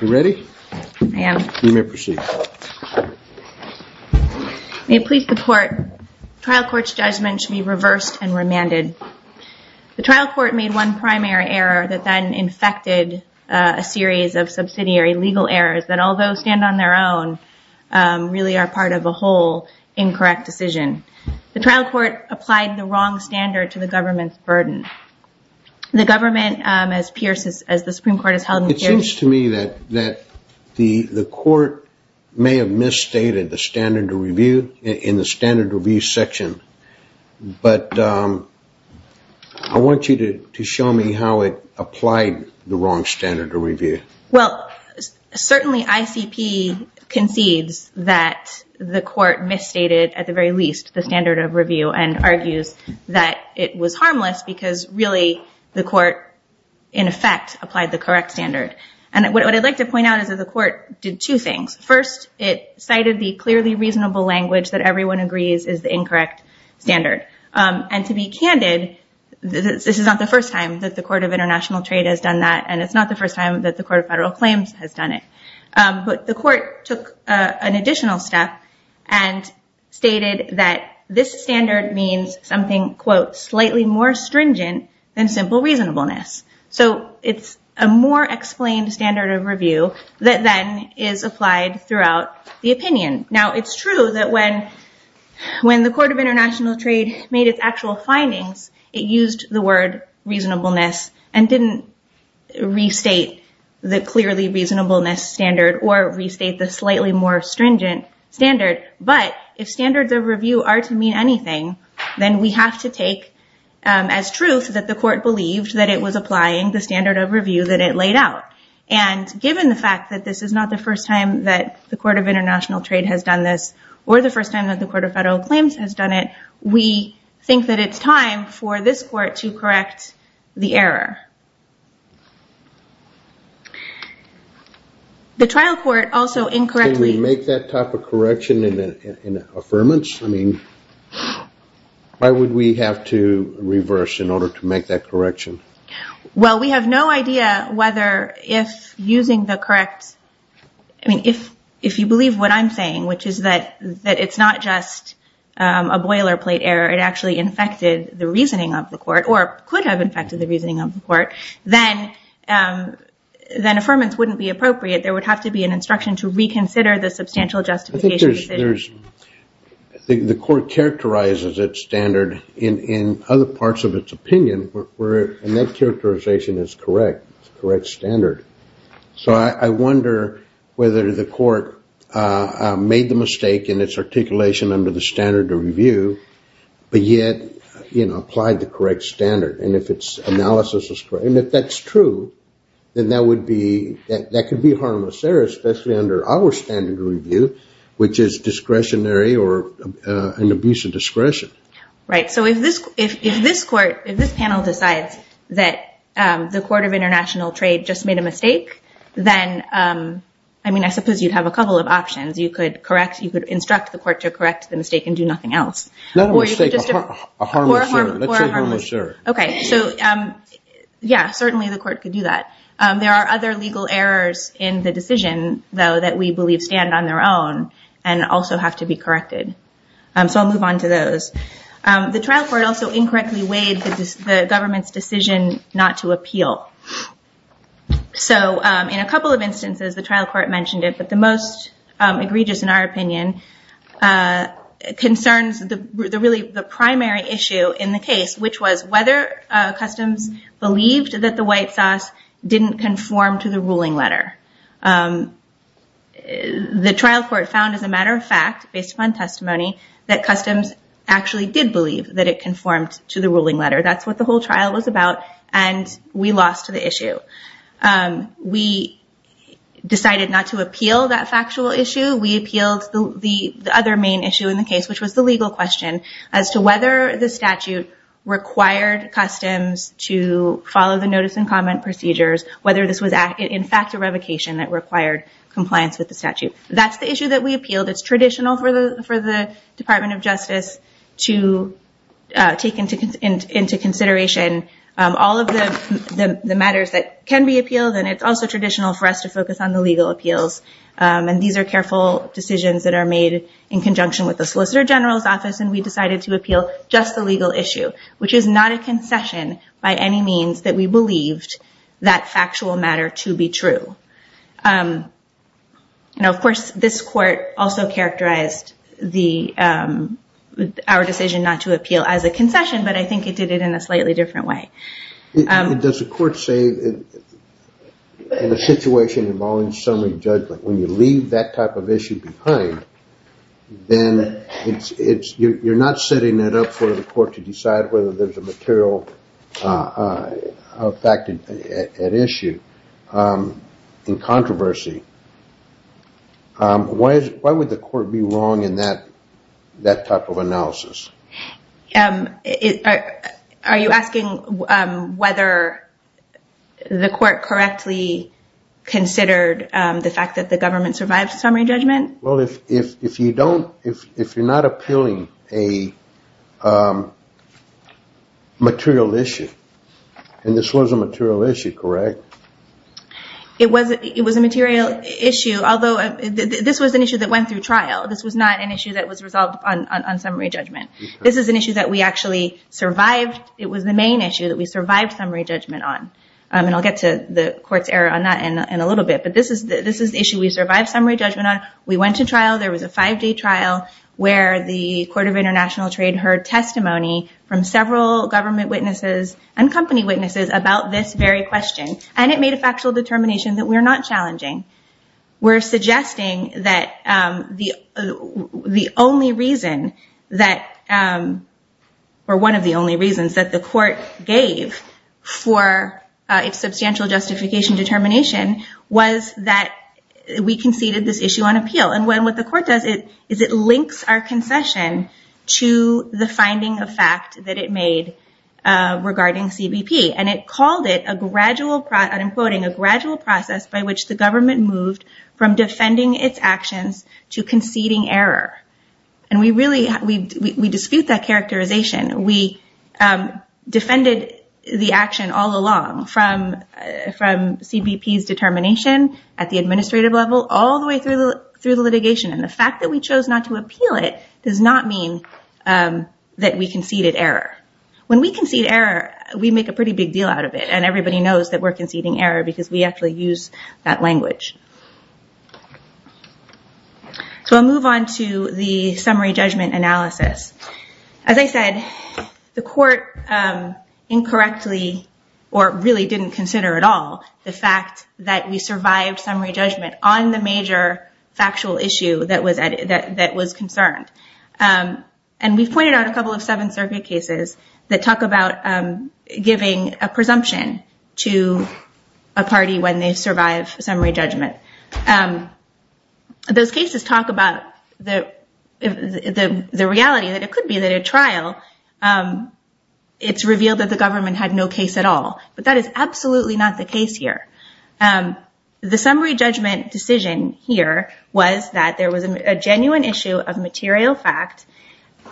You ready? I am. You may proceed. May it please the court, the trial court's judgment should be reversed and remanded. The trial court made one primary error that then infected a series of subsidiary legal errors that although stand on their own, really are part of a whole incorrect decision. The trial court applied the wrong standard to the government's burden. The government as the Supreme Court has held in the period- It seems to me that the court may have misstated the standard of review in the standard of review section, but I want you to show me how it applied the wrong standard of review. Well, certainly ICP concedes that the court misstated at the very least the standard of review and argues that it was harmless because really the court in effect applied the correct standard. And what I'd like to point out is that the court did two things. First, it cited the clearly reasonable language that everyone agrees is the incorrect standard. And to be candid, this is not the first time that the Court of International Trade has done that and it's not the first time that the Court of Federal Claims has done it. But the court took an additional step and stated that this standard means something quote, slightly more stringent than simple reasonableness. So it's a more explained standard of review that then is applied throughout the opinion. Now it's true that when the Court of International Trade made its actual findings, it used the word reasonableness and didn't restate the clearly reasonableness standard or restate the slightly more stringent standard. But if standards of review are to mean anything, then we have to take as truth that the court believed that it was applying the standard of review that it laid out. And given the fact that this is not the first time that the Court of International Trade has done this or the first time that the Court of Federal Claims has done it, we think that it's time for this court to correct the error. The trial court also incorrectly- Can we make that type of correction in an affirmance? I mean, why would we have to reverse in order to make that correction? Well, we have no idea whether if using the correct- I mean, if you believe what I'm saying, which is that it's not just a boilerplate error, it actually infected the reasoning of the court or could have infected the reasoning of the court, then affirmance wouldn't be appropriate. There would have to be an instruction to reconsider the substantial justification decision. I think the court characterizes its standard in other parts of its opinion, and that characterization is correct. It's a correct standard. So I wonder whether the court made the mistake in its articulation under the standard of review, but yet applied the correct standard. And if its analysis is correct, and if that's true, then that could be harmless error, especially under our standard of review, which is discretionary or an abuse of discretion. Right. So if this panel decides that the Court of International Trade just made a mistake, then I mean, I suppose you'd have a couple of options. You could instruct the court to correct the mistake and do nothing else. Not a mistake, a harmless error. Let's say harmless error. Okay. So yeah, certainly the court could do that. There are other legal errors in the decision, though, that we believe stand on their own and also have to be corrected. So I'll move on to those. The trial court also incorrectly weighed the government's decision not to appeal. So in a couple of instances, the trial court mentioned it, but the most egregious in our opinion concerns really the primary issue in the case, which was whether customs believed that the white sauce didn't conform to the ruling letter. The trial court found, as a matter of fact, based upon testimony, that customs actually did believe that it conformed to the ruling letter. That's what the whole trial was about, and we lost to the issue. We decided not to appeal that factual issue. We appealed the other main issue in the case, which was the legal question as to whether the statute required customs to follow the notice and comment procedures, whether this was in fact a revocation that required compliance with the statute. That's the issue that we appealed. It's traditional for the Department of Justice to take into consideration all of the matters that can be appealed, and it's also traditional for us to focus on the legal appeals. These are careful decisions that are made in conjunction with the Solicitor General's decision to appeal just the legal issue, which is not a concession by any means that we believed that factual matter to be true. Of course, this court also characterized our decision not to appeal as a concession, but I think it did it in a slightly different way. Does the court say in a situation involving summary judgment, when you leave that type of issue behind, then you're not setting it up for the court to decide whether there's a material fact at issue in controversy. Why would the court be wrong in that type of analysis? Are you asking whether the court correctly considered the fact that the government survived summary judgment? Well, if you're not appealing a material issue, and this was a material issue, correct? It was a material issue, although this was an issue that went through trial. This was not an issue that was resolved on summary judgment. This is an issue that we actually survived. It was the main issue that we survived summary judgment on, and I'll get to the court's error on that in a little bit, but this is the issue we survived summary judgment on. We went to trial. There was a five-day trial where the Court of International Trade heard testimony from several government witnesses and company witnesses about this very question, and it made a factual determination that we're not challenging. We're suggesting that the only reason that, or one of the only reasons that the court gave for its substantial justification determination was that we conceded this issue on appeal, and what the court does is it links our concession to the finding of fact that it made regarding CBP, and it called it, I'm quoting, a gradual process by which the government moved from defending its actions to conceding error, and we dispute that characterization. We defended the action all along from CBP's determination at the administrative level all the way through the litigation, and the fact that we chose not to appeal it does not mean that we conceded error. When we concede error, we make a pretty big deal out of it, and everybody knows that we're conceding error because we actually use that language. So I'll move on to the summary judgment analysis. As I said, the court incorrectly or really didn't consider at all the fact that we survived summary judgment on the major factual issue that was concerned, and we've pointed out a couple of Seventh Circuit cases that talk about giving a presumption to a party when they survive summary judgment. Those cases talk about the reality that it could be that at trial, it's revealed that the government had no case at all, but that is absolutely not the case here. The summary judgment decision here was that there was a genuine issue of material fact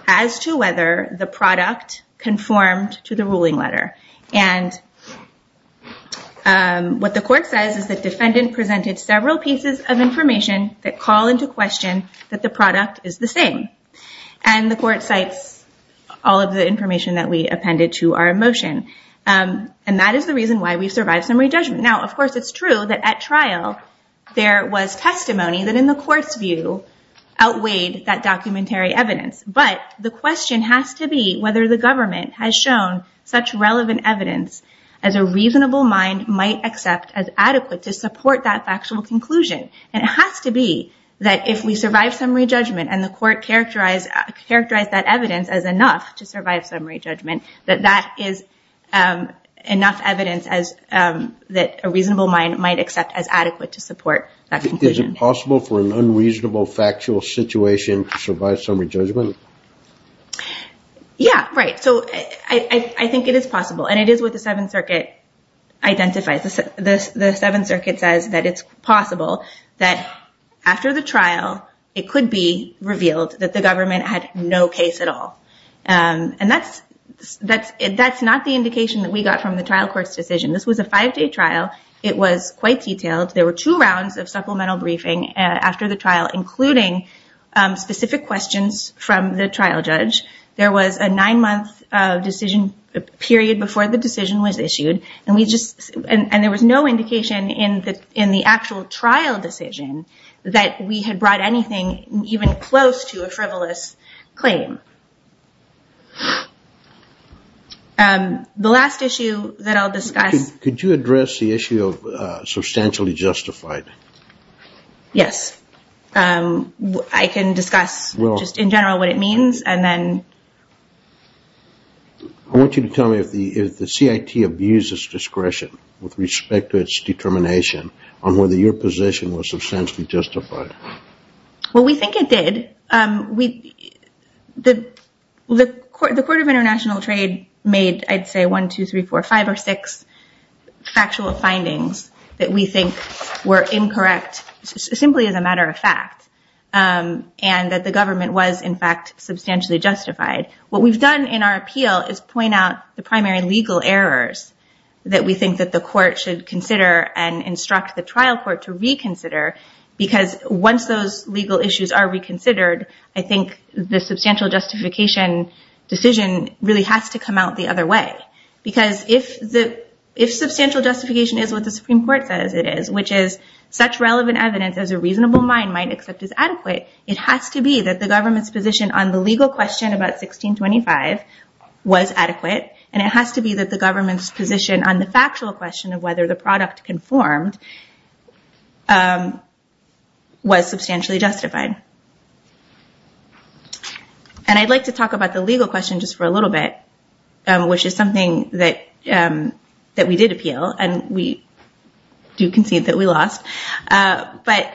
as to whether the product conformed to the ruling letter, and what the court says is the defendant presented several pieces of information that call into question that the product is the same, and the court cites all of the information that we appended to our motion, and that is the reason why we survived summary judgment. Now, of course, it's true that at trial, there was testimony that in the court's view outweighed that documentary evidence, but the question has to be whether the government has shown such relevant evidence as a reasonable mind might accept as adequate to support that factual conclusion, and it has to be that if we survive summary judgment and the court characterized that evidence as enough to survive summary judgment, that that is enough evidence that a reasonable mind might accept as adequate to support that conclusion. Is it possible for an unreasonable factual situation to survive summary judgment? Yeah, right. So I think it is possible, and it is what the Seventh Circuit identifies. The Seventh Circuit says that it's possible that after the trial, it could be revealed that the government had no case at all, and that's not the indication that we got from the trial court's decision. This was a five-day trial. It was quite detailed. There were two rounds of supplemental briefing after the trial, including specific questions from the trial judge. There was a nine-month decision period before the decision was issued, and there was no indication in the actual trial decision that we had brought anything even close to a frivolous claim. The last issue that I'll discuss... Could you address the issue of substantially justified? Yes. I can discuss just in general what it means, and then... I want you to tell me if the CIT abused its discretion with respect to its determination on whether your position was substantially justified. Well, we think it did. The Court of International Trade made, I'd say, one, two, three, four, five, or six factual findings that we think were incorrect simply as a matter of fact, and that the government was, in fact, substantially justified. What we've done in our appeal is point out the primary legal errors that we think that the court should consider and instruct the trial court to reconsider, because once those legal issues are reconsidered, I think the substantial justification decision really has to come out the other way. Because if substantial justification is what the Supreme Court says it is, which is such relevant evidence as a reasonable mind might accept as adequate, it has to be that the government's position on the legal question about 1625 was adequate, and it has to be that the government's position on the factual question of whether the product conformed was substantially justified. And I'd like to talk about the legal question just for a little bit, which is something that we did appeal, and we do concede that we lost. But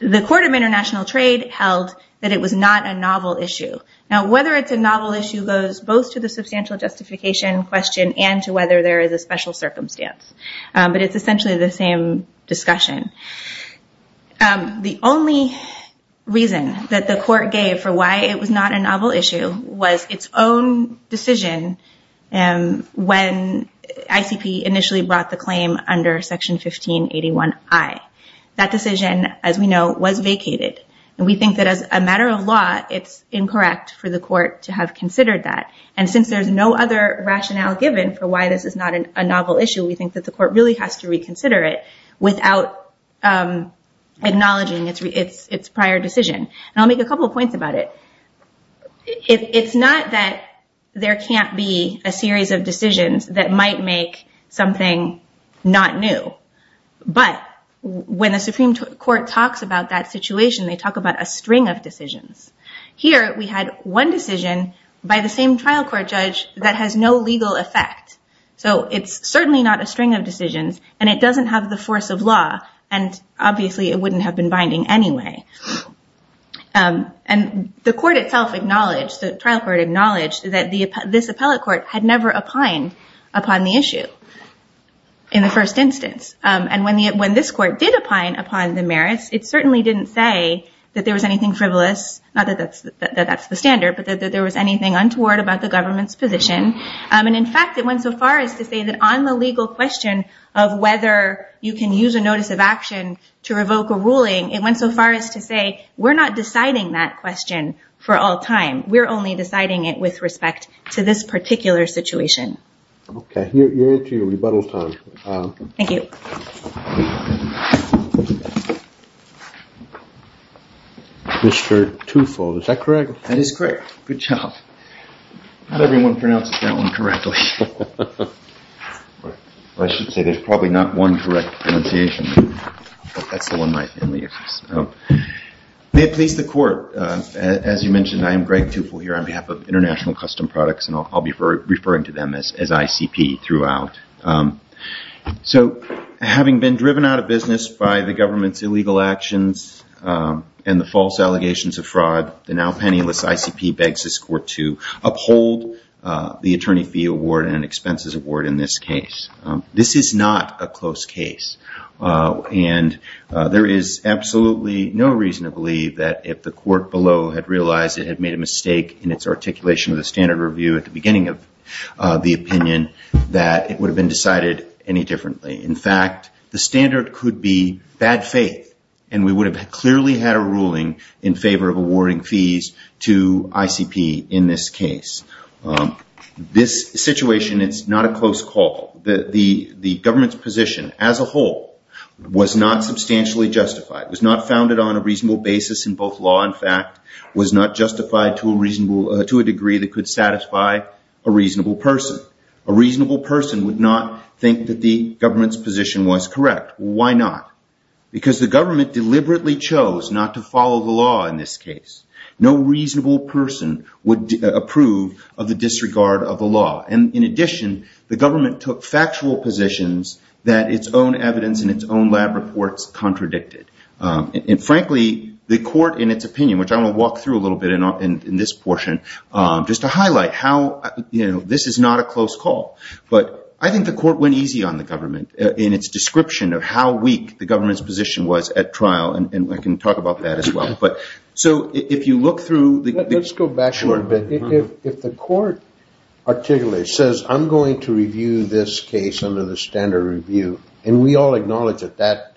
the Court of International Trade held that it was not a novel issue. Now, whether it's a novel issue goes both to the substantial justification question and to whether there is a special circumstance, but it's essentially the same discussion. The only reason that the court gave for why it was not a novel issue was its own decision when ICP initially brought the claim under Section 1581I. That decision, as we know, was vacated. We think that as a matter of law, it's incorrect for the court to have considered that. And since there's no other rationale given for why this is not a novel issue, we think that the court really has to reconsider it without acknowledging its prior decision. And I'll make a couple of points about it. It's not that there can't be a series of decisions that might make something not new, but when the Supreme Court talks about that situation, they talk about a string of decisions. Here we had one decision by the same trial court judge that has no legal effect. So it's certainly not a string of decisions, and it doesn't have the force of law. And obviously, it wouldn't have been binding anyway. And the trial court acknowledged that this appellate court had never opined upon the issue in the first instance. And when this court did opine upon the merits, it certainly didn't say that there was anything frivolous, not that that's the standard, but that there was anything untoward about the government's position. And in fact, it went so far as to say that on the legal question of whether you can use a notice of action to revoke a ruling, it went so far as to say, we're not deciding that question for all time. We're only deciding it with respect to this particular situation. OK, you're into your rebuttal time. Thank you. Mr. Tufo, is that correct? That is correct. Good job. Not everyone pronounces that one correctly. Well, I should say, there's probably not one correct pronunciation. But that's the one my family uses. May it please the court, as you mentioned, I am Greg Tufo here on behalf of International Custom Products. And I'll be referring to them as ICP throughout. So having been driven out of business by the government's illegal actions and the false allegations of fraud, the now penniless ICP begs this court to uphold the attorney fee award and expenses award in this case. This is not a close case. And there is absolutely no reason to believe that if the court below had realized it had made a mistake in its articulation of the standard review at the beginning of the opinion, that it would have been decided any differently. In fact, the standard could be bad faith. And we would have clearly had a ruling in favor of awarding fees to ICP in this case. This situation, it's not a close call. The government's position as a whole was not substantially justified, was not founded on a reasonable basis in both law and fact, was not justified to a degree that could satisfy a reasonable person. A reasonable person would not think that the government's position was correct. Why not? Because the government deliberately chose not to follow the law in this case. No reasonable person would approve of the disregard of the law. And in addition, the government took factual positions that its own evidence and its own lab reports contradicted. And frankly, the court in its opinion, which I will walk through a little bit in this portion, just to highlight how this is not a close call. But I think the court went easy on the government in its description of how weak the government's position was at trial. And I can talk about that as well. But so if you look through the... Let's go back a little bit. If the court articulates, says, I'm going to review this case under the standard review, and we all acknowledge that that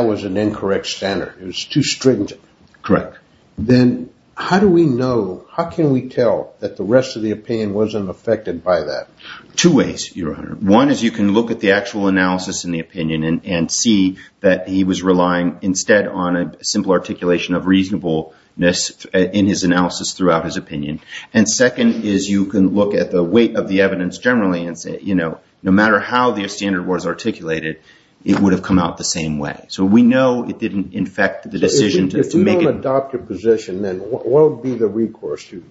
was an incorrect standard, it was too stringent. Correct. Then how do we know, how can we tell that the rest of the opinion wasn't affected by that? Two ways, Your Honor. One is you can look at the actual analysis in the opinion and see that he was relying instead on a simple articulation of reasonableness in his analysis throughout his opinion. And second is you can look at the weight of the evidence generally and say, you know, no matter how the standard was articulated, it would have come out the same way. So we know it didn't infect the decision to make it... If we don't adopt a position, then what would be the recourse to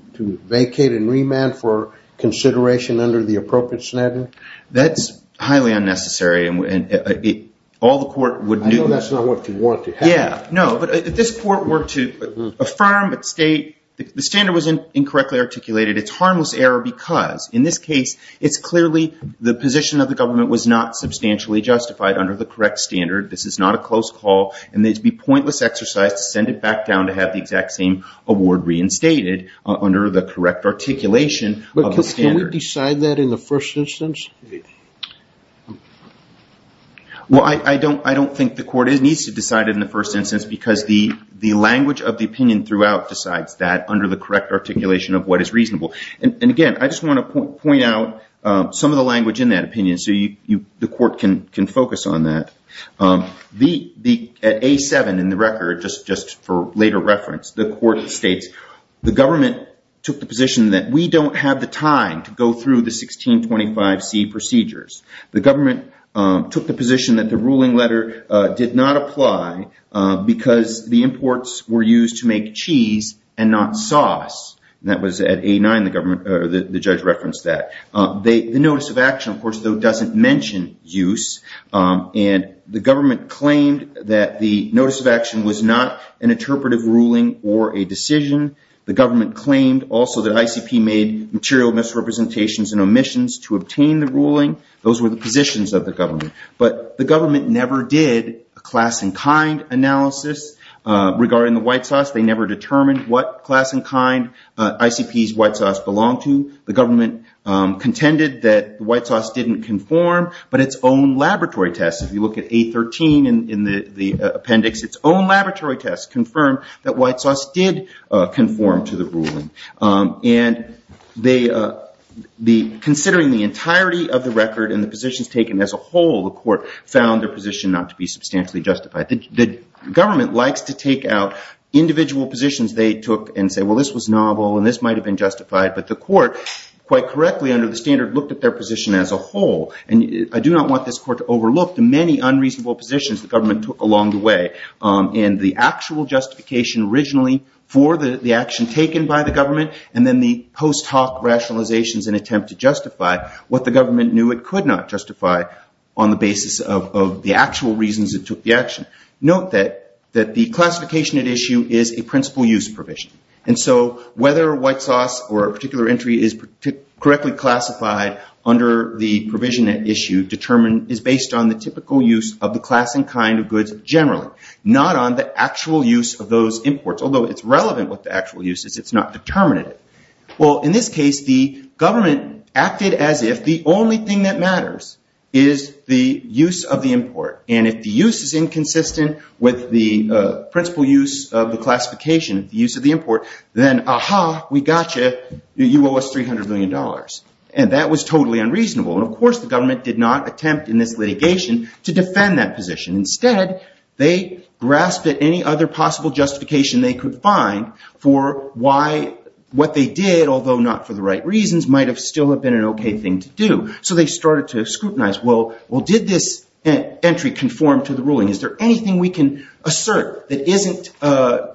vacate and remand for consideration under the appropriate standard? That's highly unnecessary and all the court would... I know that's not what you want to happen. Yeah. No, but if this court were to affirm, state the standard was incorrectly articulated, it's harmless error because in this case, it's clearly the position of the government was not substantially justified under the correct standard. This is not a close call, and it'd be pointless exercise to send it back down to have the exact same award reinstated under the correct articulation of the standard. Can we decide that in the first instance? Well, I don't think the court needs to decide it in the first instance because the language of the opinion throughout decides that under the correct articulation of what is reasonable. And again, I just want to point out some of the language in that opinion so the court can focus on that. The A7 in the record, just for later reference, the court states, the government took the position that we don't have the time to go through the 1625C procedures. The government took the position that the ruling letter did not apply because the imports were used to make cheese and not sauce. That was at A9, the judge referenced that. The notice of action, of course, though, doesn't mention use. And the government claimed that the notice of action was not an interpretive ruling or a decision. The government claimed also that ICP made material misrepresentations and omissions to obtain the ruling. Those were the positions of the government. But the government never did a class and kind analysis regarding the white sauce. They never determined what class and kind ICP's white sauce belonged to. The government contended that the white sauce didn't conform. But its own laboratory test, if you look at A13 in the appendix, its own laboratory test confirmed that white sauce did conform to the ruling. And considering the entirety of the record and the positions taken as a whole, the court found their position not to be substantially justified. The government likes to take out individual positions they took and say, well, this was novel and this might have been justified. But the court, quite correctly under the standard, looked at their position as a whole. And I do not want this court to overlook the many unreasonable positions the government took along the way and the actual justification originally for the action taken by the government and then the post hoc rationalizations and attempt to justify what the government knew it could not justify on the basis of the actual reasons it took the action. Note that the classification at issue is a principal use provision. And so whether white sauce or a particular entry is correctly classified under the provision at issue is based on the typical use of the class and kind of goods generally, not on the actual use of those imports. Although it's relevant what the actual use is, it's not determinate. Well, in this case, the government acted as if the only thing that matters is the use of the import. And if the use is inconsistent with the principal use of the classification, the use of the import, then, aha, we got you, you owe us $300 million. And that was totally unreasonable. And of course, the government did not attempt in this litigation to defend that position. Instead, they grasped at any other possible justification they could find for why what they did, although not for the right reasons, might have still have been an OK thing to do. So they started to scrutinize, well, did this entry conform to the ruling? Is there anything we can assert that isn't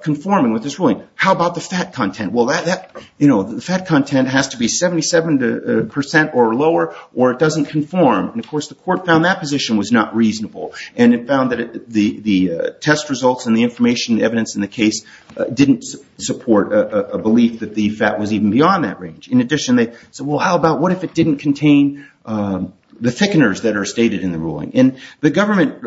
conforming with this ruling? How about the fat content? Well, the fat content has to be 77% or lower, or it doesn't conform. And of course, the court found that position was not reasonable. And it found that the test results and the information evidence in the case didn't support a belief that the fat was even beyond that range. In addition, they said, well, how about what if it didn't contain the thickeners that are stated in the ruling? And the government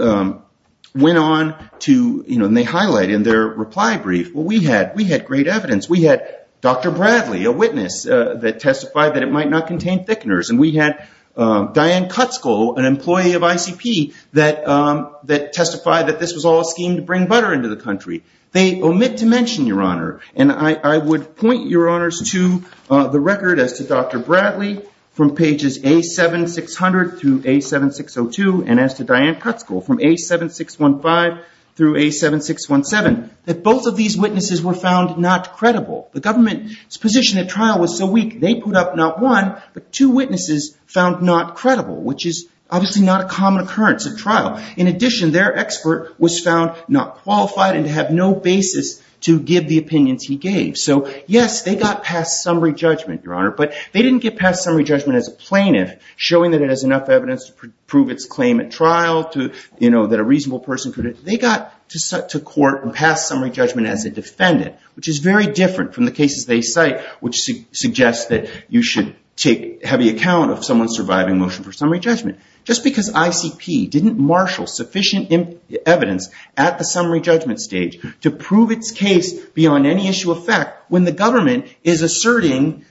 went on to highlight in their reply brief, well, we had great evidence. We had Dr. Bradley, a witness, that testified that it might not contain thickeners. And we had Diane Kutzko, an employee of ICP, that testified that this was all a scheme to bring butter into the country. They omit to mention, Your Honor, and I would point, Your Honors, to the record as to Dr. Bradley from pages A7600 through A7602. And as to Diane Kutzko from A7615 through A7617, that both of these witnesses were found not credible. The government's position at trial was so weak, they put up not one, but two witnesses found not credible, which is obviously not a common occurrence at trial. In addition, their expert was found not qualified and to have no basis to give the opinions he gave. So yes, they got past summary judgment, Your Honor. But they didn't get past summary judgment as a plaintiff, showing that it has enough evidence to prove its claim at trial, that a reasonable person could have. They got to court and passed summary judgment as a defendant, which is very different from the cases they cite, which suggests that you should take heavy account of someone's surviving motion for summary judgment. Just because ICP didn't marshal sufficient evidence at the summary judgment stage to prove its case beyond any issue of fact, when the government is asserting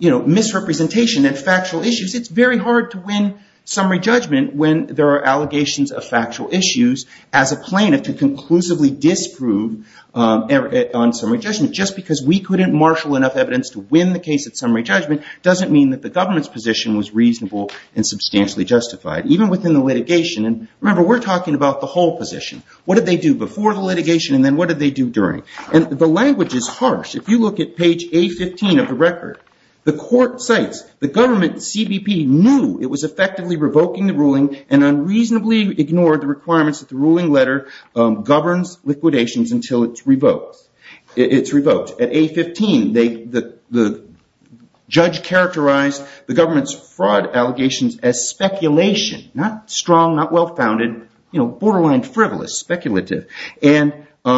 misrepresentation and factual issues, it's very hard to win summary judgment when there are allegations of factual issues as a plaintiff to conclusively disprove on summary judgment. Just because we couldn't marshal enough evidence to win the case at summary judgment doesn't mean that the government's position was reasonable and substantially justified, even within the litigation. And remember, we're talking about the whole position. What did they do before the litigation and then what did they do during? And the language is harsh. If you look at page A15 of the record, the court cites the government CBP knew it was effectively revoking the ruling and unreasonably ignored the requirements that the ruling letter governs liquidations until it's revoked. It's revoked. At A15, the judge characterized the government's fraud allegations as speculation, not strong, not well-founded, borderline frivolous, speculative. And at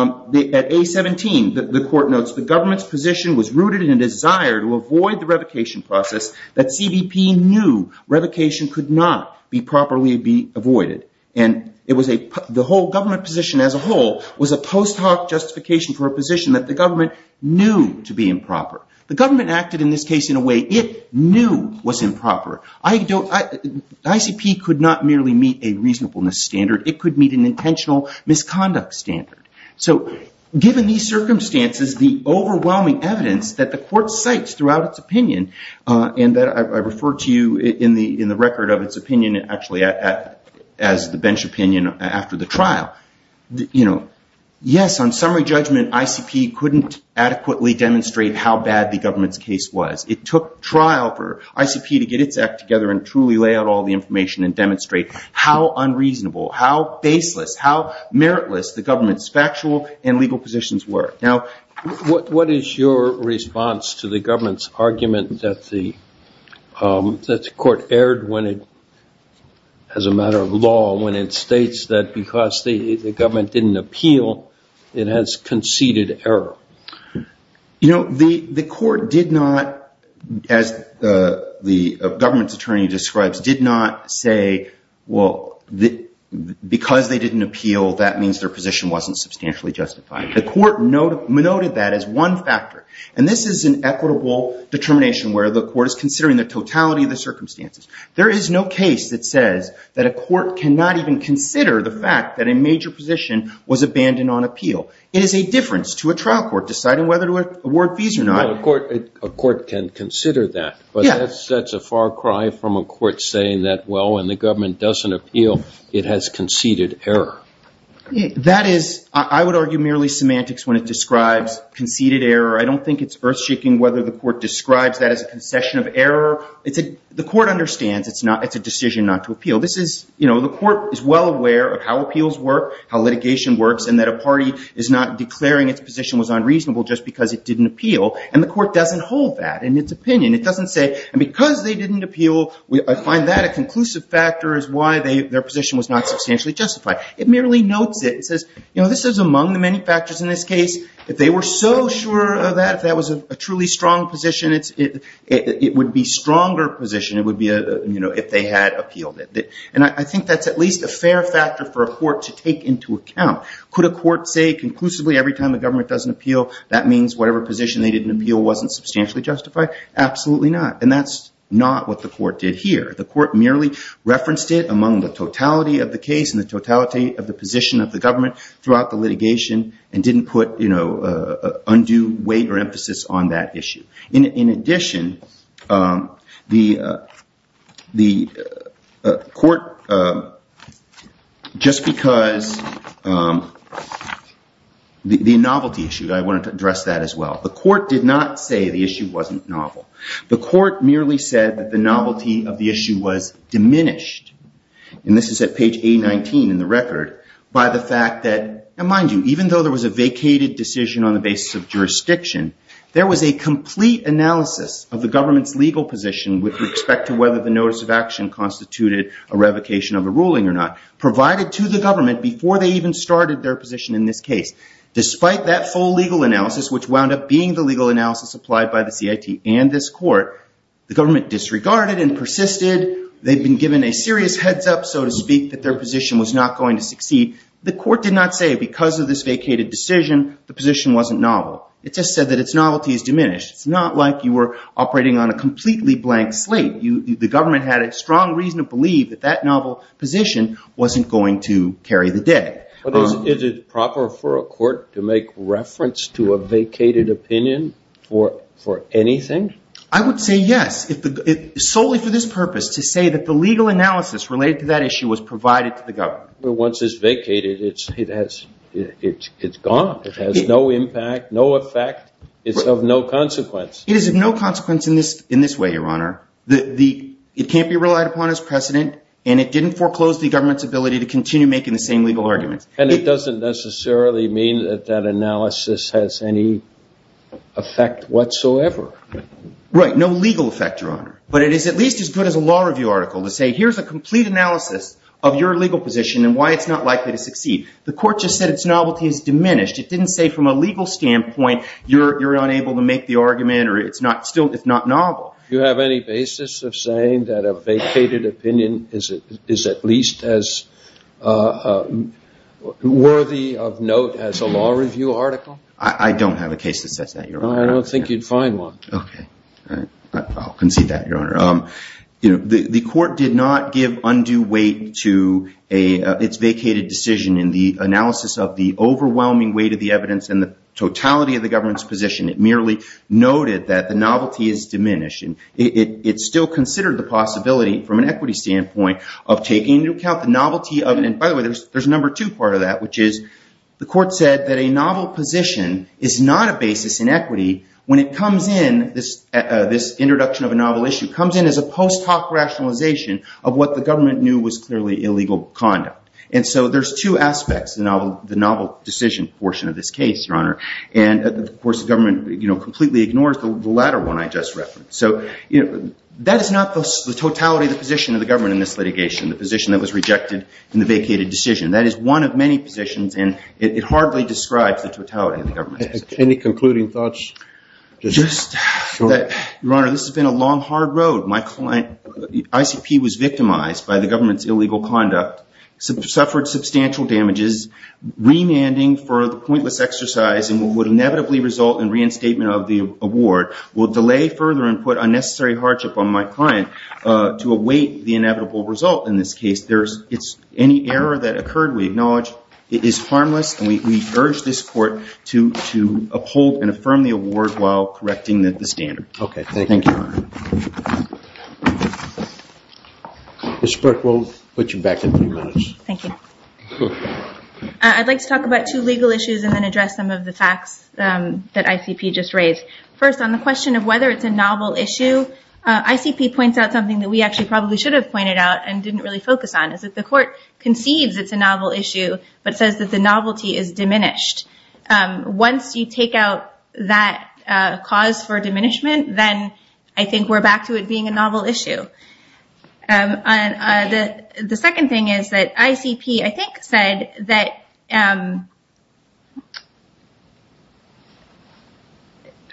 A17, the court notes, the government's position was rooted in a desire to avoid the revocation process that CBP knew revocation could not be properly avoided. And the whole government position as a whole was a post hoc justification for a position that the government knew to be improper. The government acted in this case in a way it knew was improper. ICP could not merely meet a reasonableness standard. It could meet an intentional misconduct standard. So given these circumstances, the overwhelming evidence that the court cites throughout its opinion, and that I refer to you in the record of its opinion actually as the bench opinion after the trial, yes, on summary judgment, ICP couldn't adequately demonstrate how bad the government's case was. It took trial for ICP to get its act together and truly lay out all the information and demonstrate how unreasonable, how baseless, how meritless the government's factual and legal positions were. Now, what is your response to the government's argument that the court erred as a matter of law when it states that because the government didn't appeal, it has conceded error? You know, the court did not, as the government's attorney describes, did not say, well, because they didn't appeal, that means their position wasn't substantially justified. The court noted that as one factor. And this is an equitable determination where the court is considering the totality of the circumstances. There is no case that says that a court cannot even consider the fact that a major position was abandoned on appeal. It is a difference to a trial court deciding whether to award fees or not. A court can consider that, but that's a far cry from a court saying that, well, when the government doesn't appeal, it has conceded error. That is, I would argue, merely semantics when it describes conceded error. I don't think it's earth-shaking whether the court describes that as a concession of error. The court understands it's a decision not to appeal. The court is well aware of how appeals work, how litigation works, and that a party is not declaring its position was unreasonable just because it didn't appeal. And the court doesn't hold that in its opinion. It doesn't say, and because they didn't appeal, I find that a conclusive factor as why their position was not substantially justified. It merely notes it and says, this is among the many factors in this case. If they were so sure of that, if that was a truly strong position, it would be a stronger position if they had appealed it. And I think that's at least a fair factor for a court to take into account. Could a court say conclusively every time a government doesn't appeal, that means whatever position they didn't appeal wasn't substantially justified? Absolutely not. And that's not what the court did here. The court merely referenced it among the totality of the case and the totality of the position of the government throughout the litigation and didn't put undue weight or emphasis on that issue. In addition, the court, just because the novelty issue that I wanted to address that as well, the court did not say the issue wasn't novel. The court merely said that the novelty of the issue was diminished, and this is at page 819 in the record, by the fact that, and mind you, even though there was a vacated decision on the basis of jurisdiction, there was a complete analysis of the government's legal position with respect to whether the notice of action constituted a revocation of a ruling or not, provided to the government before they even started their position in this case. Despite that full legal analysis, which wound up being the legal analysis applied by the CIT and this court, the government disregarded and persisted. They'd been given a serious heads up, so to speak, that their position was not going to succeed. The court did not say, because of this vacated decision, the position wasn't novel. It just said that its novelty is diminished. It's not like you were operating on a completely blank slate. The government had a strong reason to believe that that novel position wasn't going to carry the day. Is it proper for a court to make reference to a vacated opinion for anything? I would say yes, solely for this purpose, to say that the legal analysis related to that issue was provided to the government. But once it's vacated, it's gone. It has no impact, no effect. It's of no consequence. It is of no consequence in this way, Your Honor. and it didn't foreclose the government's ability to continue making the same legal arguments. And it doesn't necessarily mean that that analysis has any effect whatsoever. Right, no legal effect, Your Honor. But it is at least as good as a law review article to say, here's a complete analysis of your legal position and why it's not likely to succeed. The court just said its novelty is diminished. It didn't say, from a legal standpoint, you're unable to make the argument or it's not novel. Do you have any basis of saying that a vacated opinion is at least as worthy of note as a law review article? I don't have a case that says that, Your Honor. I don't think you'd find one. OK, I'll concede that, Your Honor. The court did not give undue weight to its vacated decision in the analysis of the overwhelming weight of the evidence and the totality of the government's position. It merely noted that the novelty is diminished. And it still considered the possibility, from an equity standpoint, of taking into account the novelty of it. And by the way, there's a number two part of that, which is the court said that a novel position is not a basis in equity when it comes in, this introduction of a novel issue, comes in as a post hoc rationalization of what the government knew was clearly illegal conduct. And so there's two aspects in the novel decision portion of this case, Your Honor. And of course, the government completely ignores the latter one I just referenced. So that is not the totality of the position of the government in this litigation, the position that was rejected in the vacated decision. That is one of many positions. And it hardly describes the totality of the government. Any concluding thoughts? Just that, Your Honor, this has been a long, hard road. ICP was victimized by the government's illegal conduct, suffered substantial damages, remanding for the pointless exercise in what would inevitably result in reinstatement of the award, will delay further and put unnecessary hardship on my client to await the inevitable result. In this case, any error that occurred, we acknowledge it is harmless. And we urge this court to uphold and affirm the award while correcting the standard. OK, thank you, Your Honor. Ms. Burke, we'll put you back in three minutes. Thank you. I'd like to talk about two legal issues and then address some of the facts that ICP just raised. First, on the question of whether it's a novel issue, ICP points out something that we actually probably should have pointed out and didn't really focus on, is that the court conceives it's a novel issue, but says that the novelty is diminished. Once you take out that cause for diminishment, then I think we're back to it being a novel issue. The second thing is that ICP, I think, said that,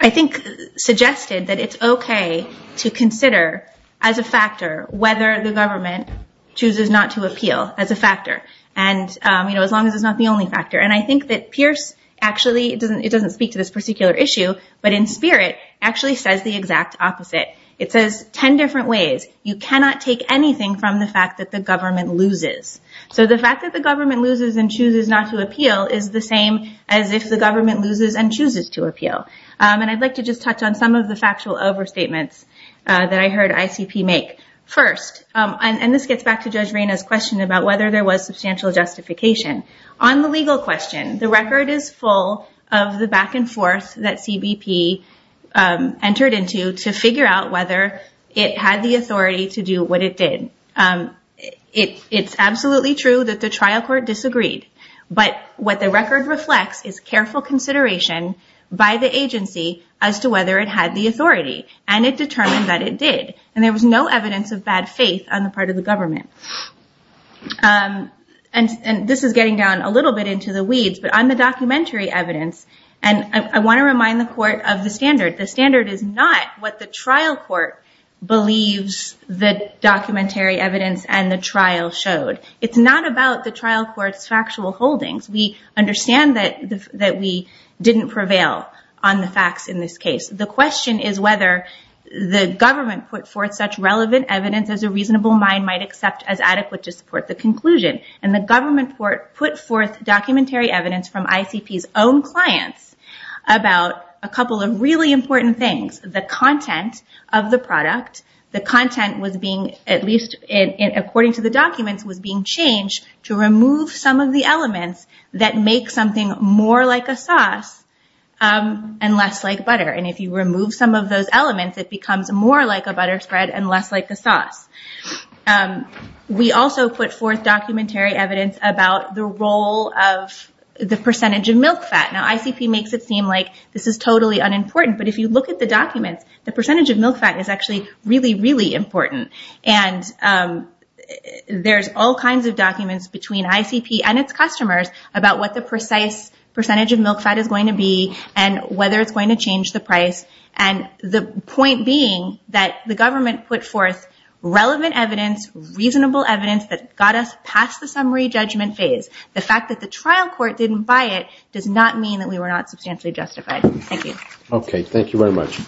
I think, suggested that it's OK to consider, as a factor, whether the government chooses not to appeal, as a factor, as long as it's not the only factor. And I think that Pierce actually, it doesn't speak to this particular issue, but in spirit, actually says the exact opposite. It says 10 different ways. You cannot take anything from the fact that the government loses. So the fact that the government loses and chooses not to appeal is the same as if the government loses and chooses to appeal. And I'd like to just touch on some of the factual overstatements that I heard ICP make. First, and this gets back to Judge Reyna's question about whether there was substantial justification. On the legal question, the record is full of the back and forth that CBP entered into to figure out whether it had the authority to do what it did. It's absolutely true that the trial court disagreed. But what the record reflects is careful consideration by the agency as to whether it had the authority. And it determined that it did. And there was no evidence of bad faith on the part of the government. And this is getting down a little bit into the weeds. But on the documentary evidence, and I want to remind the court of the standard. The standard is not what the trial court believes the documentary evidence and the trial showed. It's not about the trial court's factual holdings. We understand that we didn't prevail on the facts in this case. The question is whether the government put forth such relevant evidence as a reasonable mind might accept as adequate to support the conclusion. And the government put forth documentary evidence from ICP's own clients about a couple of really important things. The content of the product. The content was being, at least according to the documents, was being changed to remove some of the elements that make something more like a sauce and less like butter. And if you remove some of those elements, it becomes more like a butter spread and less like a sauce. We also put forth documentary evidence about the role of the percentage of milk fat. Now ICP makes it seem like this is totally unimportant. But if you look at the documents, the percentage of milk fat is actually really, really important. And there's all kinds of documents between ICP and its customers about what the precise percentage of milk fat is going to be and whether it's going to change the price. And the point being that the government put forth relevant evidence, reasonable evidence, that got us past the summary judgment phase. The fact that the trial court didn't buy it does not mean that we were not substantially justified. Thank you. OK, thank you very much.